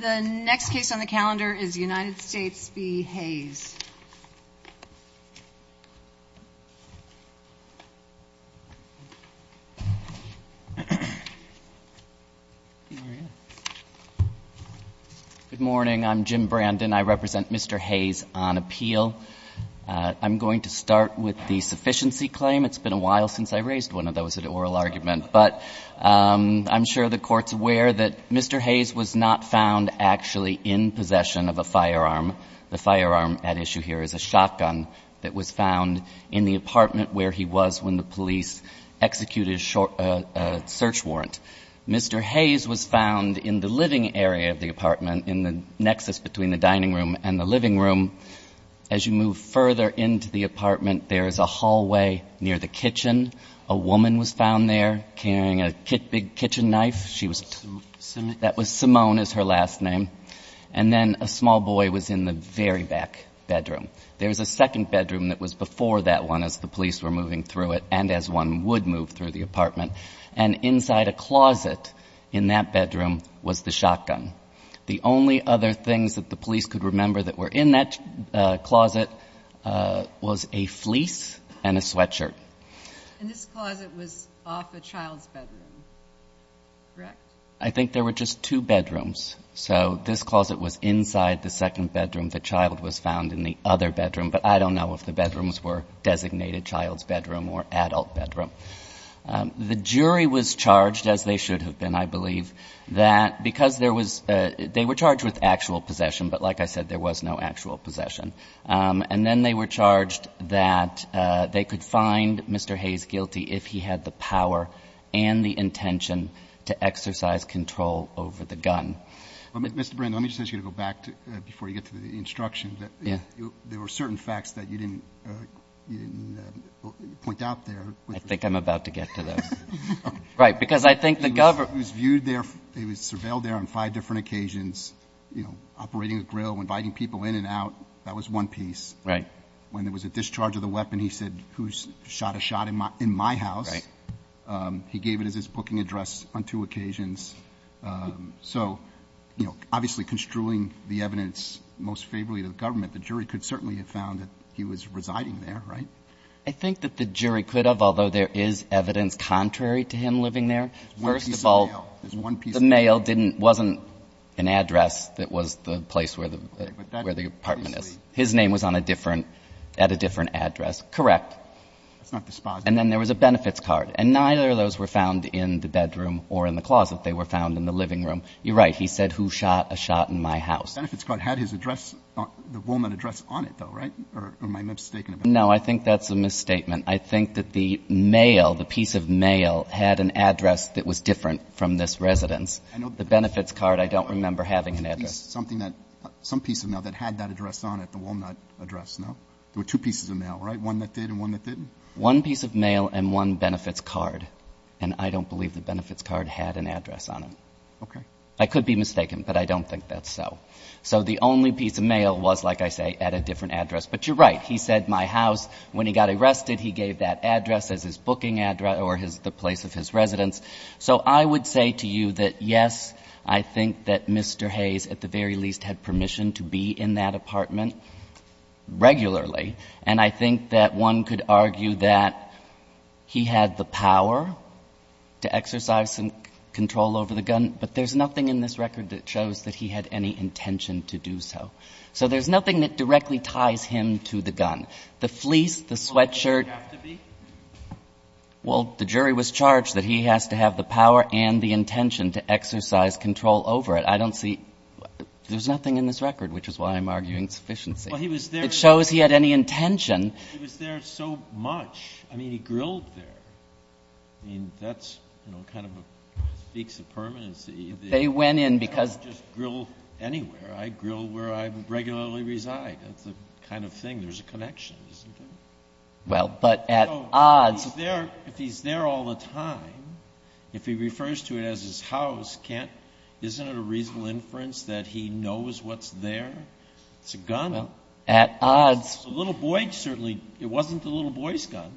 Good morning. I'm Jim Brandon. I represent Mr. Hayes on appeal. I'm going to start with the sufficiency claim. It's been a while since I raised one of those at oral argument, but I'm sure the Court's aware that Mr. Hayes was not found actually in possession of a firearm. The firearm at issue here is a shotgun that was found in the apartment where he was when the police executed a search warrant. Mr. Hayes was found in the living area of the apartment, in the nexus between the dining room and the living room. As you move further into the apartment, there is a hallway near the kitchen. A woman was found there carrying a big kitchen knife. That was Simone is her last name. And then a small boy was in the very back bedroom. There is a second bedroom that was before that one as the police were moving through it and as one would move through the apartment. And inside a closet in that bedroom was the shotgun. The only other things that the police could remember that were in that closet was a fleece and a sweatshirt. And this closet was off a child's bedroom, correct? I think there were just two bedrooms. So this closet was inside the second bedroom. The child was found in the other bedroom. But I don't know if the bedrooms were designated child's bedroom or adult bedroom. The jury was charged, as they should have been, I believe, that because there was they were charged with actual possession, but like I said, there was no actual possession. And then they were charged that they could find Mr. Hayes guilty if he had the power and the intention to exercise control over the gun. Mr. Brand, let me just ask you to go back before you get to the instructions. There were certain facts that you didn't point out there. I think I'm about to get to those. Right. Because I think the government He was viewed there. He was surveilled there on five different occasions, you know, operating a grill, inviting people in and out. That was one piece, right? When there was a discharge of the weapon, he said, who's shot a shot in my in my house? He gave it as his booking address on two occasions. So, you know, obviously construing the evidence most favorably to the government, the jury could certainly have found that he was residing there, right? I think that the jury could have, although there is evidence contrary to him living there. First of all, the mail didn't, wasn't an address that was the place where the, where the apartment is. His name was on a different, at a different address. Correct. And then there was a benefits card. And neither of those were found in the bedroom or in the closet. They were found in the living room. You're right. He said, who shot a shot in my house? The benefits card had his address, the woman address on it, though, right? Or am I mistaken about that? No, I think that's a misstatement. I think that the mail, the piece of mail had an address that was different from this residence. The benefits card, I don't remember having an address. Some piece of mail that had that address on it, the walnut address, no? There were two pieces of mail, right? One that did and one that didn't? One piece of mail and one benefits card. And I don't believe the benefits card had an address on it. Okay. I could be mistaken, but I don't think that's so. So the only piece of mail was, like I say, at a different address. But you're right. He said my house. When he got arrested, he gave that address as his booking address or the place of his residence. So I would say to you that, yes, I think that Mr. Hayes, at the very least, had permission to be in that apartment regularly. And I think that one could argue that he had the power to exercise control over the gun, but there's nothing in this record that shows that he had any intention to do so. So there's nothing that directly ties him to the gun. The fleece, the sweatshirt. Well, the jury was charged that he has to have the power and the intention to exercise control over it. I don't see — there's nothing in this record, which is why I'm arguing sufficiency. Well, he was there — It shows he had any intention. He was there so much. I mean, he grilled there. I mean, that's, you know, kind of a speaks of permanency. They went in because — Well, I don't just grill anywhere. I grill where I regularly reside. That's the kind of thing. There's a connection, isn't there? Well, but at odds — If he's there all the time, if he refers to it as his house, can't — isn't it a reasonable inference that he knows what's there? It's a gun. At odds. It's a little boy, certainly. It wasn't the little boy's gun.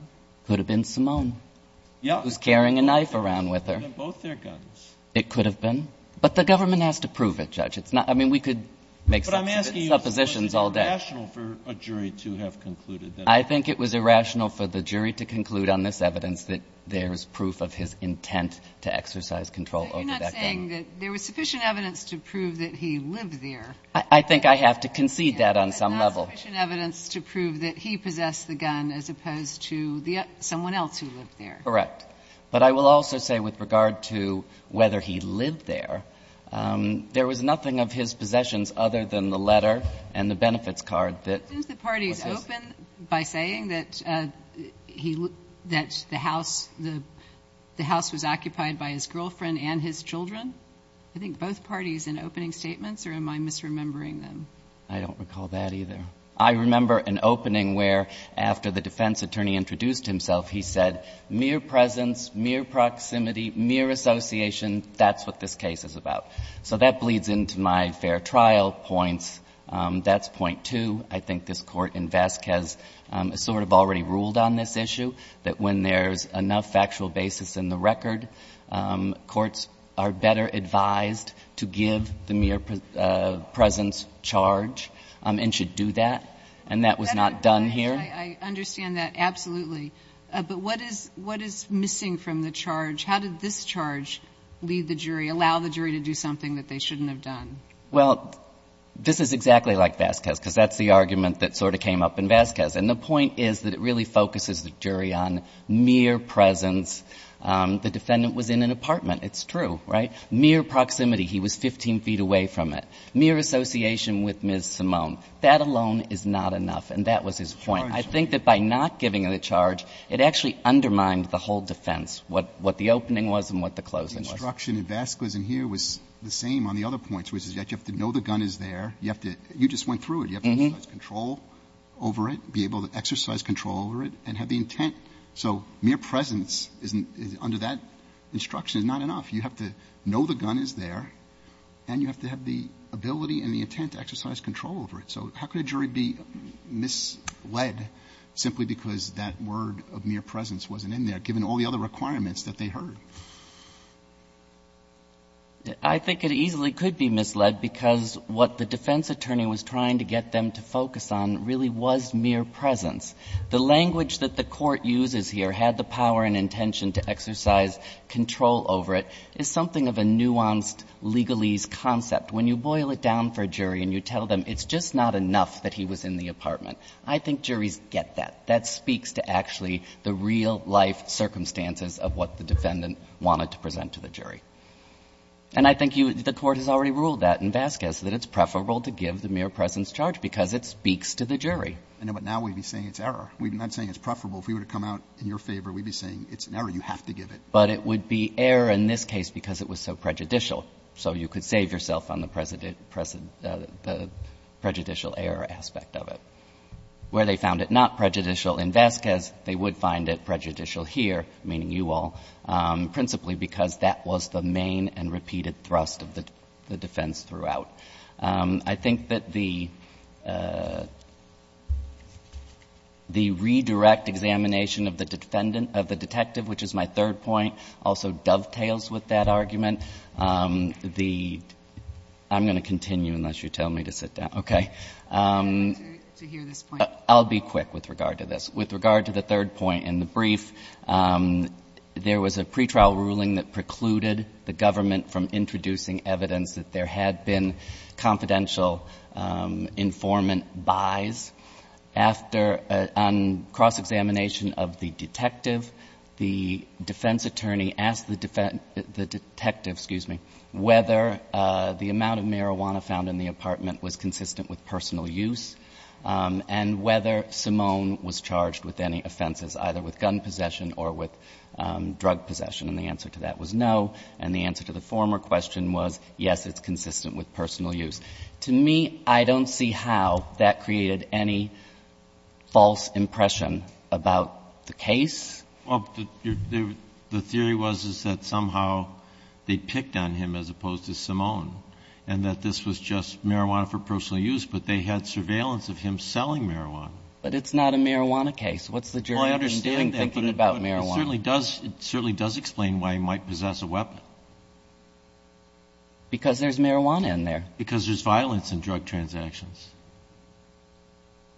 Could have been Simone. Yeah. Who's carrying a knife around with her. It could have been both their guns. It could have been. But the government has to prove it, Judge. It's not — I mean, we could make suppositions all day. But I'm asking you, is it rational for a jury to have concluded that — I think it was irrational for the jury to conclude on this evidence that there's proof of his intent to exercise control over that gun. But you're not saying that there was sufficient evidence to prove that he lived there. I think I have to concede that on some level. But not sufficient evidence to prove that he possessed the gun as opposed to the — someone else who lived there. Correct. But I will also say with regard to whether he lived there, there was nothing of his possessions other than the letter and the benefits card that — Didn't the parties open by saying that he — that the house — the house was occupied by his girlfriend and his children? I think both parties in opening statements, or am I misremembering them? I don't recall that either. I remember an opening where, after the defense attorney introduced himself, he said, mere presence, mere proximity, mere association, that's what this case is about. So that bleeds into my fair trial points. That's point two. I think this Court in Vasquez has sort of already ruled on this issue, that when there's enough factual basis in the record, courts are better advised to give the mere presence charge and should do that. And that was not done here. I understand that, absolutely. But what is — what is missing from the charge? How did this charge lead the jury, allow the jury to do something that they shouldn't have done? Well, this is exactly like Vasquez, because that's the argument that sort of came up in Vasquez. And the point is that it really focuses the jury on mere presence. The defendant was in an apartment. It's true, right? Mere proximity. He was 15 feet away from it. Mere association with Ms. Simone. That alone is not enough. And that was his point. I think that by not giving the charge, it actually undermined the whole defense, what the opening was and what the closing was. The instruction in Vasquez in here was the same on the other points, which is that you have to know the gun is there. You have to — you just went through it. You have to exercise control over it, be able to exercise control over it, and have the intent. So mere presence is — under that instruction is not enough. You have to know the gun is there, and you have to have the ability and the intent to exercise control over it. So how could a jury be misled simply because that word of mere presence wasn't in there, given all the other requirements that they heard? I think it easily could be misled, because what the defense attorney was trying to get them to focus on really was mere presence. The language that the Court uses here, had the power and intention to exercise control over it, is something of a nuanced legalese concept. When you boil it down for a jury and you tell them it's just not enough that he was in the apartment, I think juries get that. That speaks to actually the real-life circumstances of what the defendant wanted to present to the jury. And I think you — the Court has already ruled that in Vasquez, that it's preferable to give the mere presence charge, because it speaks to the jury. But now we'd be saying it's error. We're not saying it's preferable. If we were to come out in your favor, we'd be saying it's an error. You have to give it. But it would be error in this case because it was so prejudicial. So you could save yourself on the prejudicial error aspect of it. Where they found it not prejudicial in Vasquez, they would find it prejudicial here, meaning you all, principally because that was the main and repeated thrust of the defense throughout. I think that the — the redirect examination of the detective, which is my third point, also dovetails with that argument. The — I'm going to continue unless you tell me to sit down. Okay. To hear this point. I'll be quick with regard to this. With regard to the third point in the brief, there was a pretrial ruling that precluded the government from introducing evidence that there had been confidential informant buys. After — on cross-examination of the detective, the defense attorney asked the — the detective, excuse me, whether the amount of marijuana found in the apartment was consistent with personal use and whether Simone was charged with any offenses, either with gun possession or with drug possession. And the answer to that was no. And the answer to the former question was, yes, it's consistent with personal use. To me, I don't see how that created any false impression about the case. Well, the theory was, is that somehow they picked on him as opposed to Simone and that this was just marijuana for personal use, but they had surveillance of him selling marijuana. But it's not a marijuana case. What's the jury been doing thinking about marijuana? It certainly does — it certainly does explain why he might possess a weapon. Because there's marijuana in there. Because there's violence in drug transactions.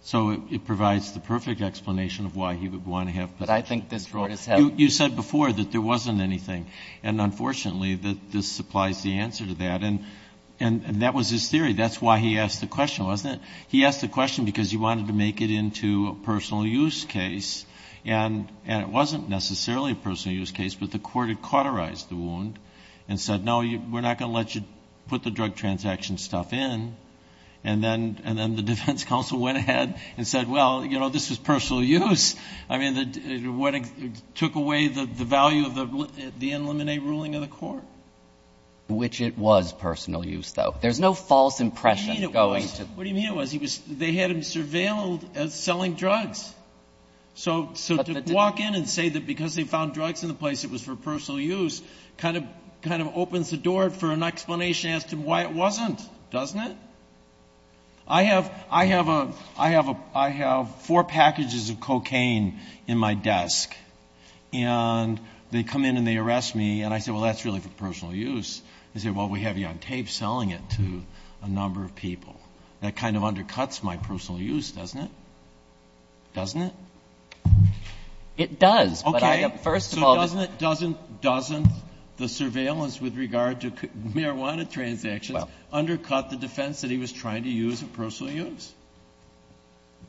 So it provides the perfect explanation of why he would want to have possession. But I think this brought us — You said before that there wasn't anything. And unfortunately, this supplies the answer to that. And that was his theory. That's why he asked the question, wasn't it? He asked the question because he wanted to make it into a personal use case. And it wasn't necessarily a personal use case, but the court had cauterized the wound and said, no, we're not going to let you put the drug transaction stuff in. And then the defense counsel went ahead and said, well, you know, this was personal use. I mean, it took away the value of the in limine ruling of the court. Which it was personal use, though. There's no false impression going to — What do you mean it was? They had him surveilled as selling drugs. So to walk in and say that because they found drugs in the place it was for personal use kind of opens the door for an explanation as to why it wasn't, doesn't it? I have — I have a — I have a — I have four packages of cocaine in my desk. And they come in and they arrest me. And I say, well, that's really for personal use. They say, well, we have you on tape selling it to a number of people. That kind of undercuts my personal use, doesn't it? Doesn't it? It does. But I — Okay. First of all — So doesn't — doesn't — doesn't the surveillance with regard to marijuana transactions undercut the defense that he was trying to use of personal use?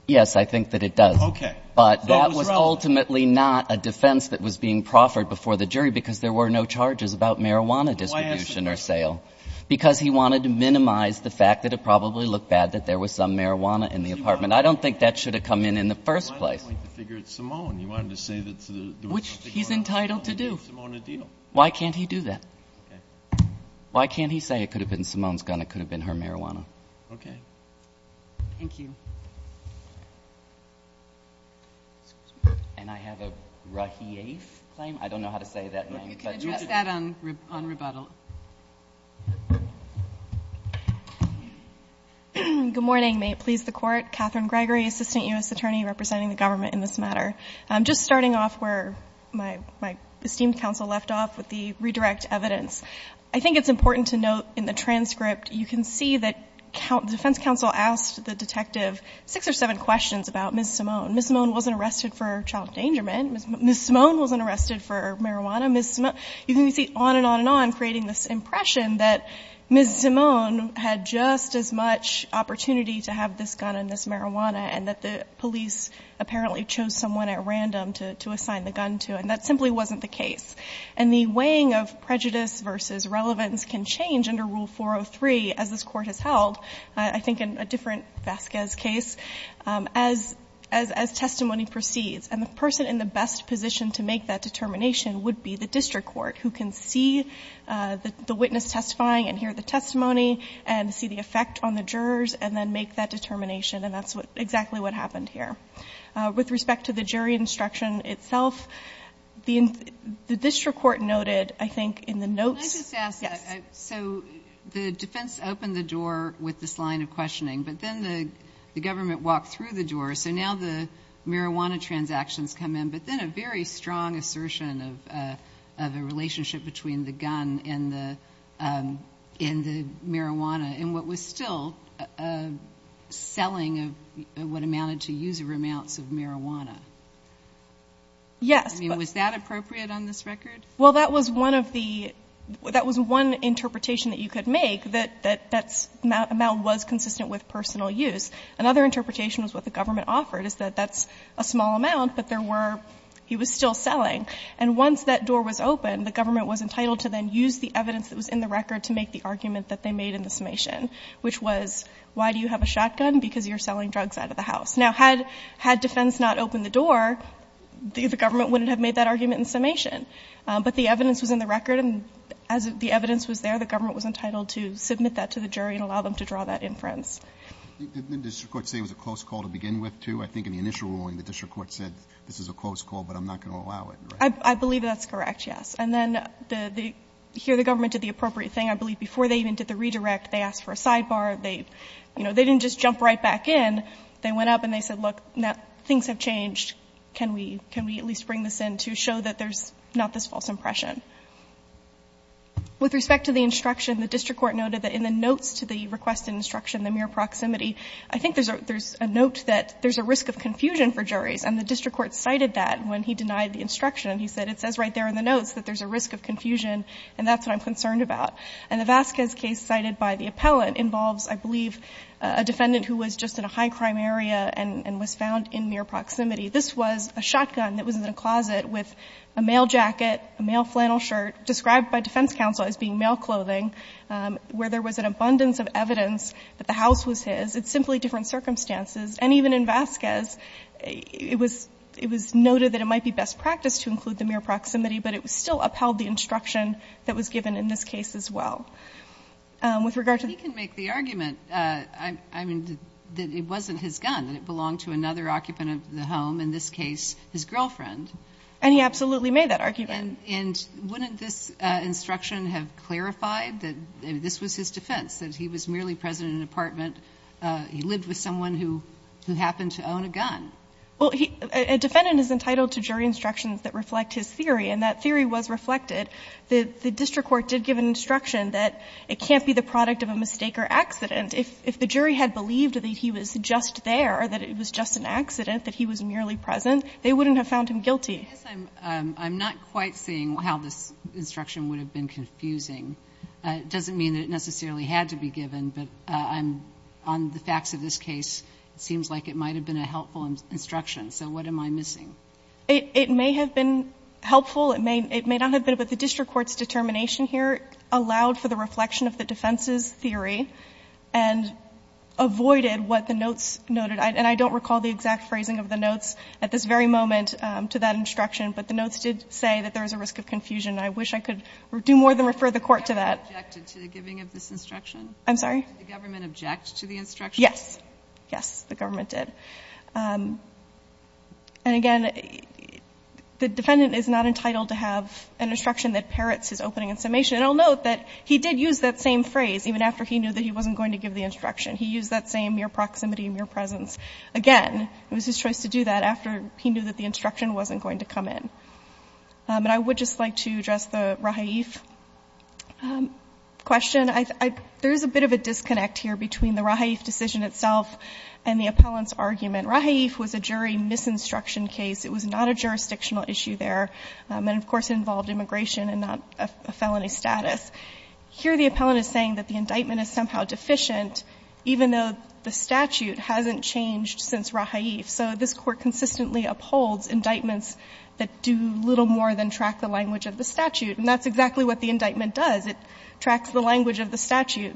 Yes, I think that it does. Okay. But that was ultimately not a defense that was being proffered before the jury because there were no charges about marijuana distribution or sale. Why answer that? Because he wanted to minimize the fact that it probably looked bad that there was some marijuana in the apartment. I don't think that should have come in in the first place. Why don't you think the figure is Simone? You wanted to say that there was something about Simone — Which he's entitled to do. — a deal. Why can't he do that? Okay. Why can't he say it could have been Simone's gun, it could have been her marijuana? Okay. Thank you. Excuse me. And I have a Rahief claim. I don't know how to say that name. You can address that on — on rebuttal. Good morning. May it please the Court. Catherine Gregory, Assistant U.S. Attorney representing the government in this matter. I'm just starting off where my — my esteemed counsel left off with the redirect evidence. I think it's important to note in the transcript you can see that defense counsel asked the detective six or seven questions about Ms. Simone. Ms. Simone wasn't arrested for child endangerment. Ms. Simone wasn't arrested for marijuana. Ms. Simone — you can see on and on and on creating this impression that Ms. Simone had just as much opportunity to have this gun and this marijuana and that the police apparently chose someone at random to — to assign the gun to. And that simply wasn't the case. And the weighing of prejudice versus relevance can change under Rule 403 as this court has held, I think in a different Vasquez case, as — as testimony proceeds. And the person in the best position to make that determination would be the district court who can see the witness testifying and hear the testimony and see the effect on the jurors and then make that determination. And that's what — exactly what happened here. With respect to the jury instruction itself, the — the district court noted, I think, in the notes — Can I just ask — Yes. So the defense opened the door with this line of questioning. But then the — the government walked through the door. So now the marijuana transactions come in. But then a very strong assertion of — of a relationship between the gun and the — Yes. I mean, was that appropriate on this record? Well, that was one of the — that was one interpretation that you could make, that — that that amount was consistent with personal use. Another interpretation was what the government offered, is that that's a small amount, but there were — he was still selling. And once that door was open, the government was entitled to then use the evidence that was in the record to make the argument that they made in the summation, which was, why do you have a shotgun? Because you're selling drugs out of the house. Now, had — had defense not opened the door, the government wouldn't have made that argument in summation. But the evidence was in the record, and as the evidence was there, the government was entitled to submit that to the jury and allow them to draw that inference. Didn't the district court say it was a close call to begin with, too? I think in the initial ruling, the district court said this is a close call, but I'm not going to allow it, right? I believe that's correct, yes. And then the — here the government did the appropriate thing. I believe before they even did the redirect, they asked for a look, and they said, look, things have changed. Can we — can we at least bring this in to show that there's not this false impression? With respect to the instruction, the district court noted that in the notes to the requested instruction, the mere proximity, I think there's a — there's a note that there's a risk of confusion for juries. And the district court cited that when he denied the instruction. He said, it says right there in the notes that there's a risk of confusion, and that's what I'm concerned about. And the Vasquez case cited by the appellant involves, I believe, a defendant who was just in a high-crime area and was found in mere proximity. This was a shotgun that was in a closet with a male jacket, a male flannel shirt, described by defense counsel as being male clothing, where there was an abundance of evidence that the house was his. It's simply different circumstances. And even in Vasquez, it was — it was noted that it might be best practice to include the mere proximity, but it still upheld the instruction that was given in this case as well. With regard to the — I mean, that it wasn't his gun, that it belonged to another occupant of the home, in this case, his girlfriend. And he absolutely made that argument. And wouldn't this instruction have clarified that this was his defense, that he was merely present in an apartment? He lived with someone who happened to own a gun. Well, he — a defendant is entitled to jury instructions that reflect his theory. And that theory was reflected. The district court did give an instruction that it can't be the product of a mistake or accident. If the jury had believed that he was just there, that it was just an accident, that he was merely present, they wouldn't have found him guilty. I guess I'm not quite seeing how this instruction would have been confusing. It doesn't mean that it necessarily had to be given, but I'm — on the facts of this case, it seems like it might have been a helpful instruction. So what am I missing? It may have been helpful. It may not have been, but the district court's determination here allowed for the reflection of the defense's theory and avoided what the notes noted. And I don't recall the exact phrasing of the notes at this very moment to that instruction, but the notes did say that there was a risk of confusion. I wish I could do more than refer the Court to that. The government objected to the giving of this instruction? I'm sorry? Did the government object to the instruction? Yes. Yes, the government did. And again, the defendant is not entitled to have an instruction that parrots his opening and summation. And I'll note that he did use that same phrase even after he knew that he wasn't going to give the instruction. He used that same mere proximity, mere presence. Again, it was his choice to do that after he knew that the instruction wasn't going to come in. And I would just like to address the Rahaif question. There is a bit of a disconnect here between the Rahaif decision itself and the Rahaif was a jury misinstruction case. It was not a jurisdictional issue there. And, of course, it involved immigration and not a felony status. Here the appellant is saying that the indictment is somehow deficient, even though the statute hasn't changed since Rahaif. So this Court consistently upholds indictments that do little more than track the language of the statute. And that's exactly what the indictment does. It tracks the language of the statute.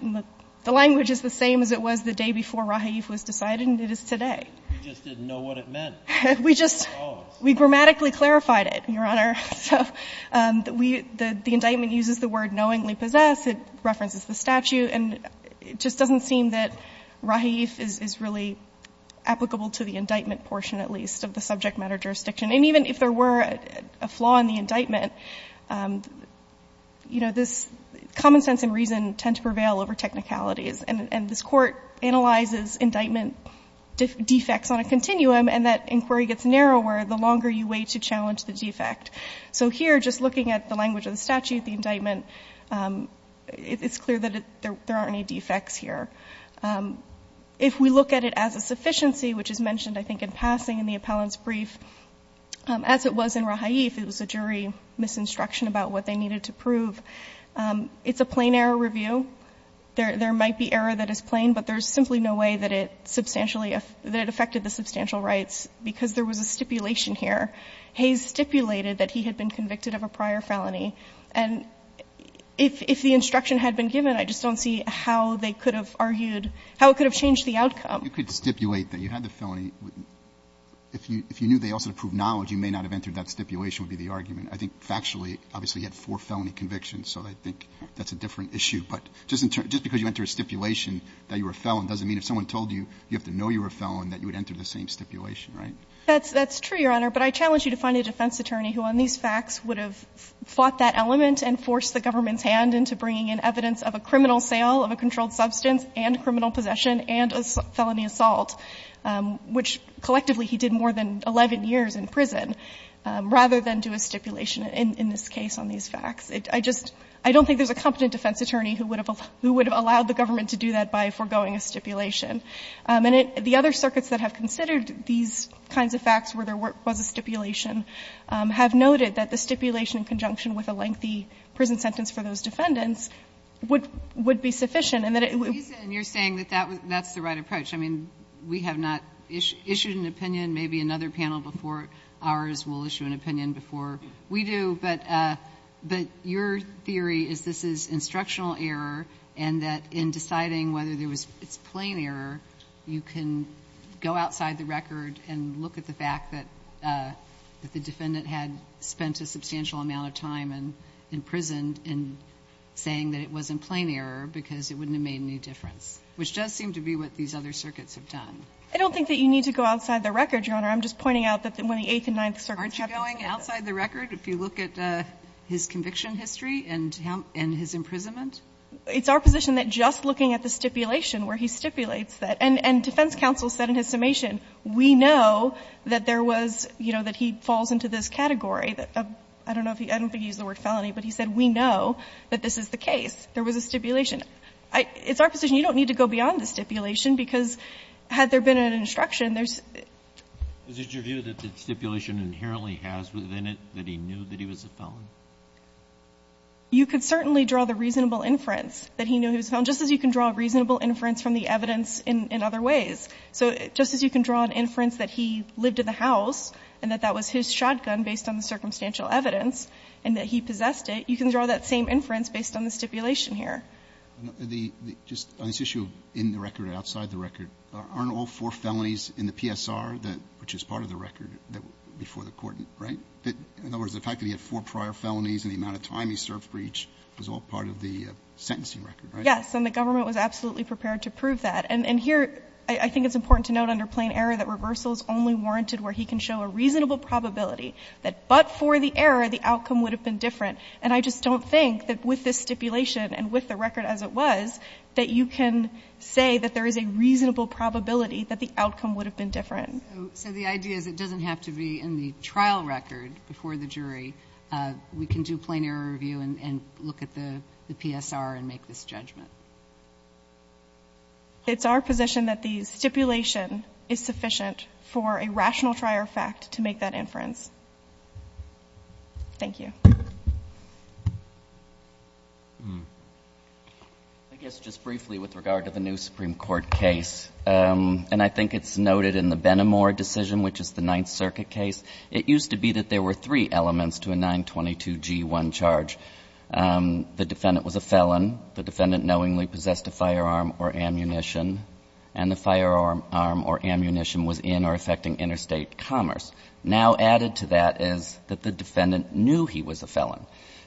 The language is the same as it was the day before Rahaif was decided, and it is today. You just didn't know what it meant. We just, we grammatically clarified it, Your Honor. So the indictment uses the word knowingly possess. It references the statute. And it just doesn't seem that Rahaif is really applicable to the indictment portion, at least, of the subject matter jurisdiction. And even if there were a flaw in the indictment, you know, this common sense and reason tend to prevail over technicalities. And this Court analyzes indictment defects on a continuum, and that inquiry gets narrower the longer you wait to challenge the defect. So here, just looking at the language of the statute, the indictment, it's clear that there aren't any defects here. If we look at it as a sufficiency, which is mentioned, I think, in passing in the appellant's brief, as it was in Rahaif, it was a jury misinstruction about what they needed to prove. It's a plain error review. There might be error that is plain, but there's simply no way that it substantially affected the substantial rights, because there was a stipulation here. Hayes stipulated that he had been convicted of a prior felony. And if the instruction had been given, I just don't see how they could have argued how it could have changed the outcome. You could stipulate that you had the felony. If you knew they also approved knowledge, you may not have entered that stipulation would be the argument. I think factually, obviously, he had four felony convictions, so I think that's a different issue. But just because you enter a stipulation that you were a felon doesn't mean if someone told you, you have to know you were a felon, that you would enter the same stipulation, right? That's true, Your Honor. But I challenge you to find a defense attorney who on these facts would have fought that element and forced the government's hand into bringing in evidence of a criminal sale of a controlled substance and criminal possession and a felony assault, which collectively he did more than 11 years in prison, rather than do a stipulation in this case on these facts. I just, I don't think there's a competent defense attorney who would have allowed the government to do that by foregoing a stipulation. The other circuits that have considered these kinds of facts where there was a stipulation have noted that the stipulation in conjunction with a lengthy prison sentence for those defendants would be sufficient and that it would. And you're saying that that's the right approach. I mean, we have not issued an opinion. Maybe another panel before ours will issue an opinion before we do. But your theory is this is instructional error and that in deciding whether there was, it's plain error, you can go outside the record and look at the fact that the defendant had spent a substantial amount of time in prison in saying that it wasn't plain error because it wouldn't have made any difference, which does seem to be what these other circuits have done. I don't think that you need to go outside the record, Your Honor. I'm just pointing out that when the Eighth and Ninth Circuits happened. Aren't you going outside the record? If you look at his conviction history and his imprisonment? It's our position that just looking at the stipulation where he stipulates that, and defense counsel said in his summation, we know that there was, you know, that he falls into this category of, I don't know if he, I don't think he used the word felony, but he said we know that this is the case. There was a stipulation. It's our position you don't need to go beyond the stipulation because had there been an instruction, there's. Kennedy, was it your view that the stipulation inherently has within it that he knew that he was a felon? You could certainly draw the reasonable inference that he knew he was a felon, just as you can draw a reasonable inference from the evidence in other ways. So just as you can draw an inference that he lived in the house and that that was his shotgun based on the circumstantial evidence and that he possessed it, you can draw that same inference based on the stipulation here. Just on this issue of in the record or outside the record, aren't all four felonies in the PSR, which is part of the record before the court, right? In other words, the fact that he had four prior felonies and the amount of time he served for each was all part of the sentencing record, right? Yes, and the government was absolutely prepared to prove that. And here I think it's important to note under plain error that reversal is only warranted where he can show a reasonable probability that but for the error, the outcome would have been different. And I just don't think that with this stipulation and with the record as it was, that you can say that there is a reasonable probability that the outcome would have been different. So the idea is it doesn't have to be in the trial record before the jury. We can do plain error review and look at the PSR and make this judgment. It's our position that the stipulation is sufficient for a rational trial fact to make that inference. Thank you. I guess just briefly with regard to the new Supreme Court case, and I think it's noted in the Benamor decision, which is the Ninth Circuit case, it used to be that there were three elements to a 922G1 charge. The defendant was a felon. The defendant knowingly possessed a firearm or ammunition. And the firearm or ammunition was in or affecting interstate commerce. Now added to that is that the defendant knew he was a felon.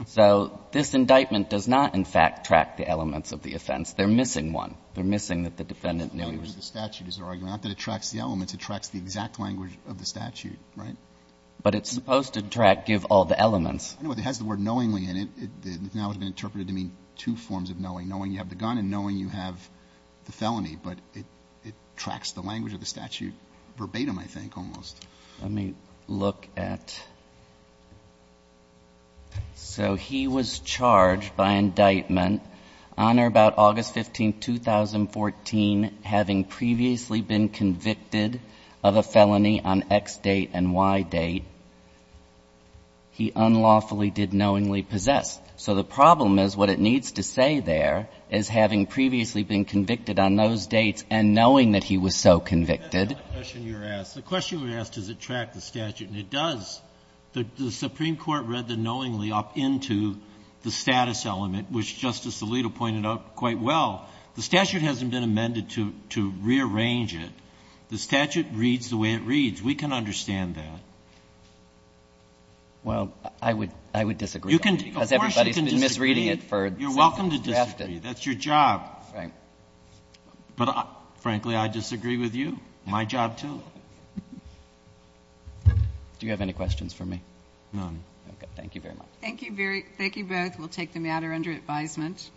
So this indictment does not, in fact, track the elements of the offense. They're missing one. They're missing that the defendant knew he was a felon. It doesn't track the elements. It tracks the exact language of the statute, right? But it's supposed to give all the elements. It has the word knowingly in it. Now it's been interpreted to mean two forms of knowing. Knowing you have the gun and knowing you have the felony. But it tracks the language of the statute verbatim, I think, almost. Let me look at. So he was charged by indictment on or about August 15, 2014, having previously been convicted of a felony on X date and Y date. He unlawfully did knowingly possess. So the problem is what it needs to say there is having previously been convicted on those dates and knowing that he was so convicted. The question you were asked. The question you were asked, does it track the statute? And it does. The Supreme Court read the knowingly up into the status element, which Justice Alito pointed out quite well. The statute hasn't been amended to rearrange it. The statute reads the way it reads. We can understand that. Well, I would disagree. Of course you can disagree. Because everybody's been misreading it. You're welcome to disagree. That's your job. Right. But frankly, I disagree with you. My job, too. Do you have any questions for me? None. Okay. Thank you very much. Thank you both. We'll take the matter under advisement.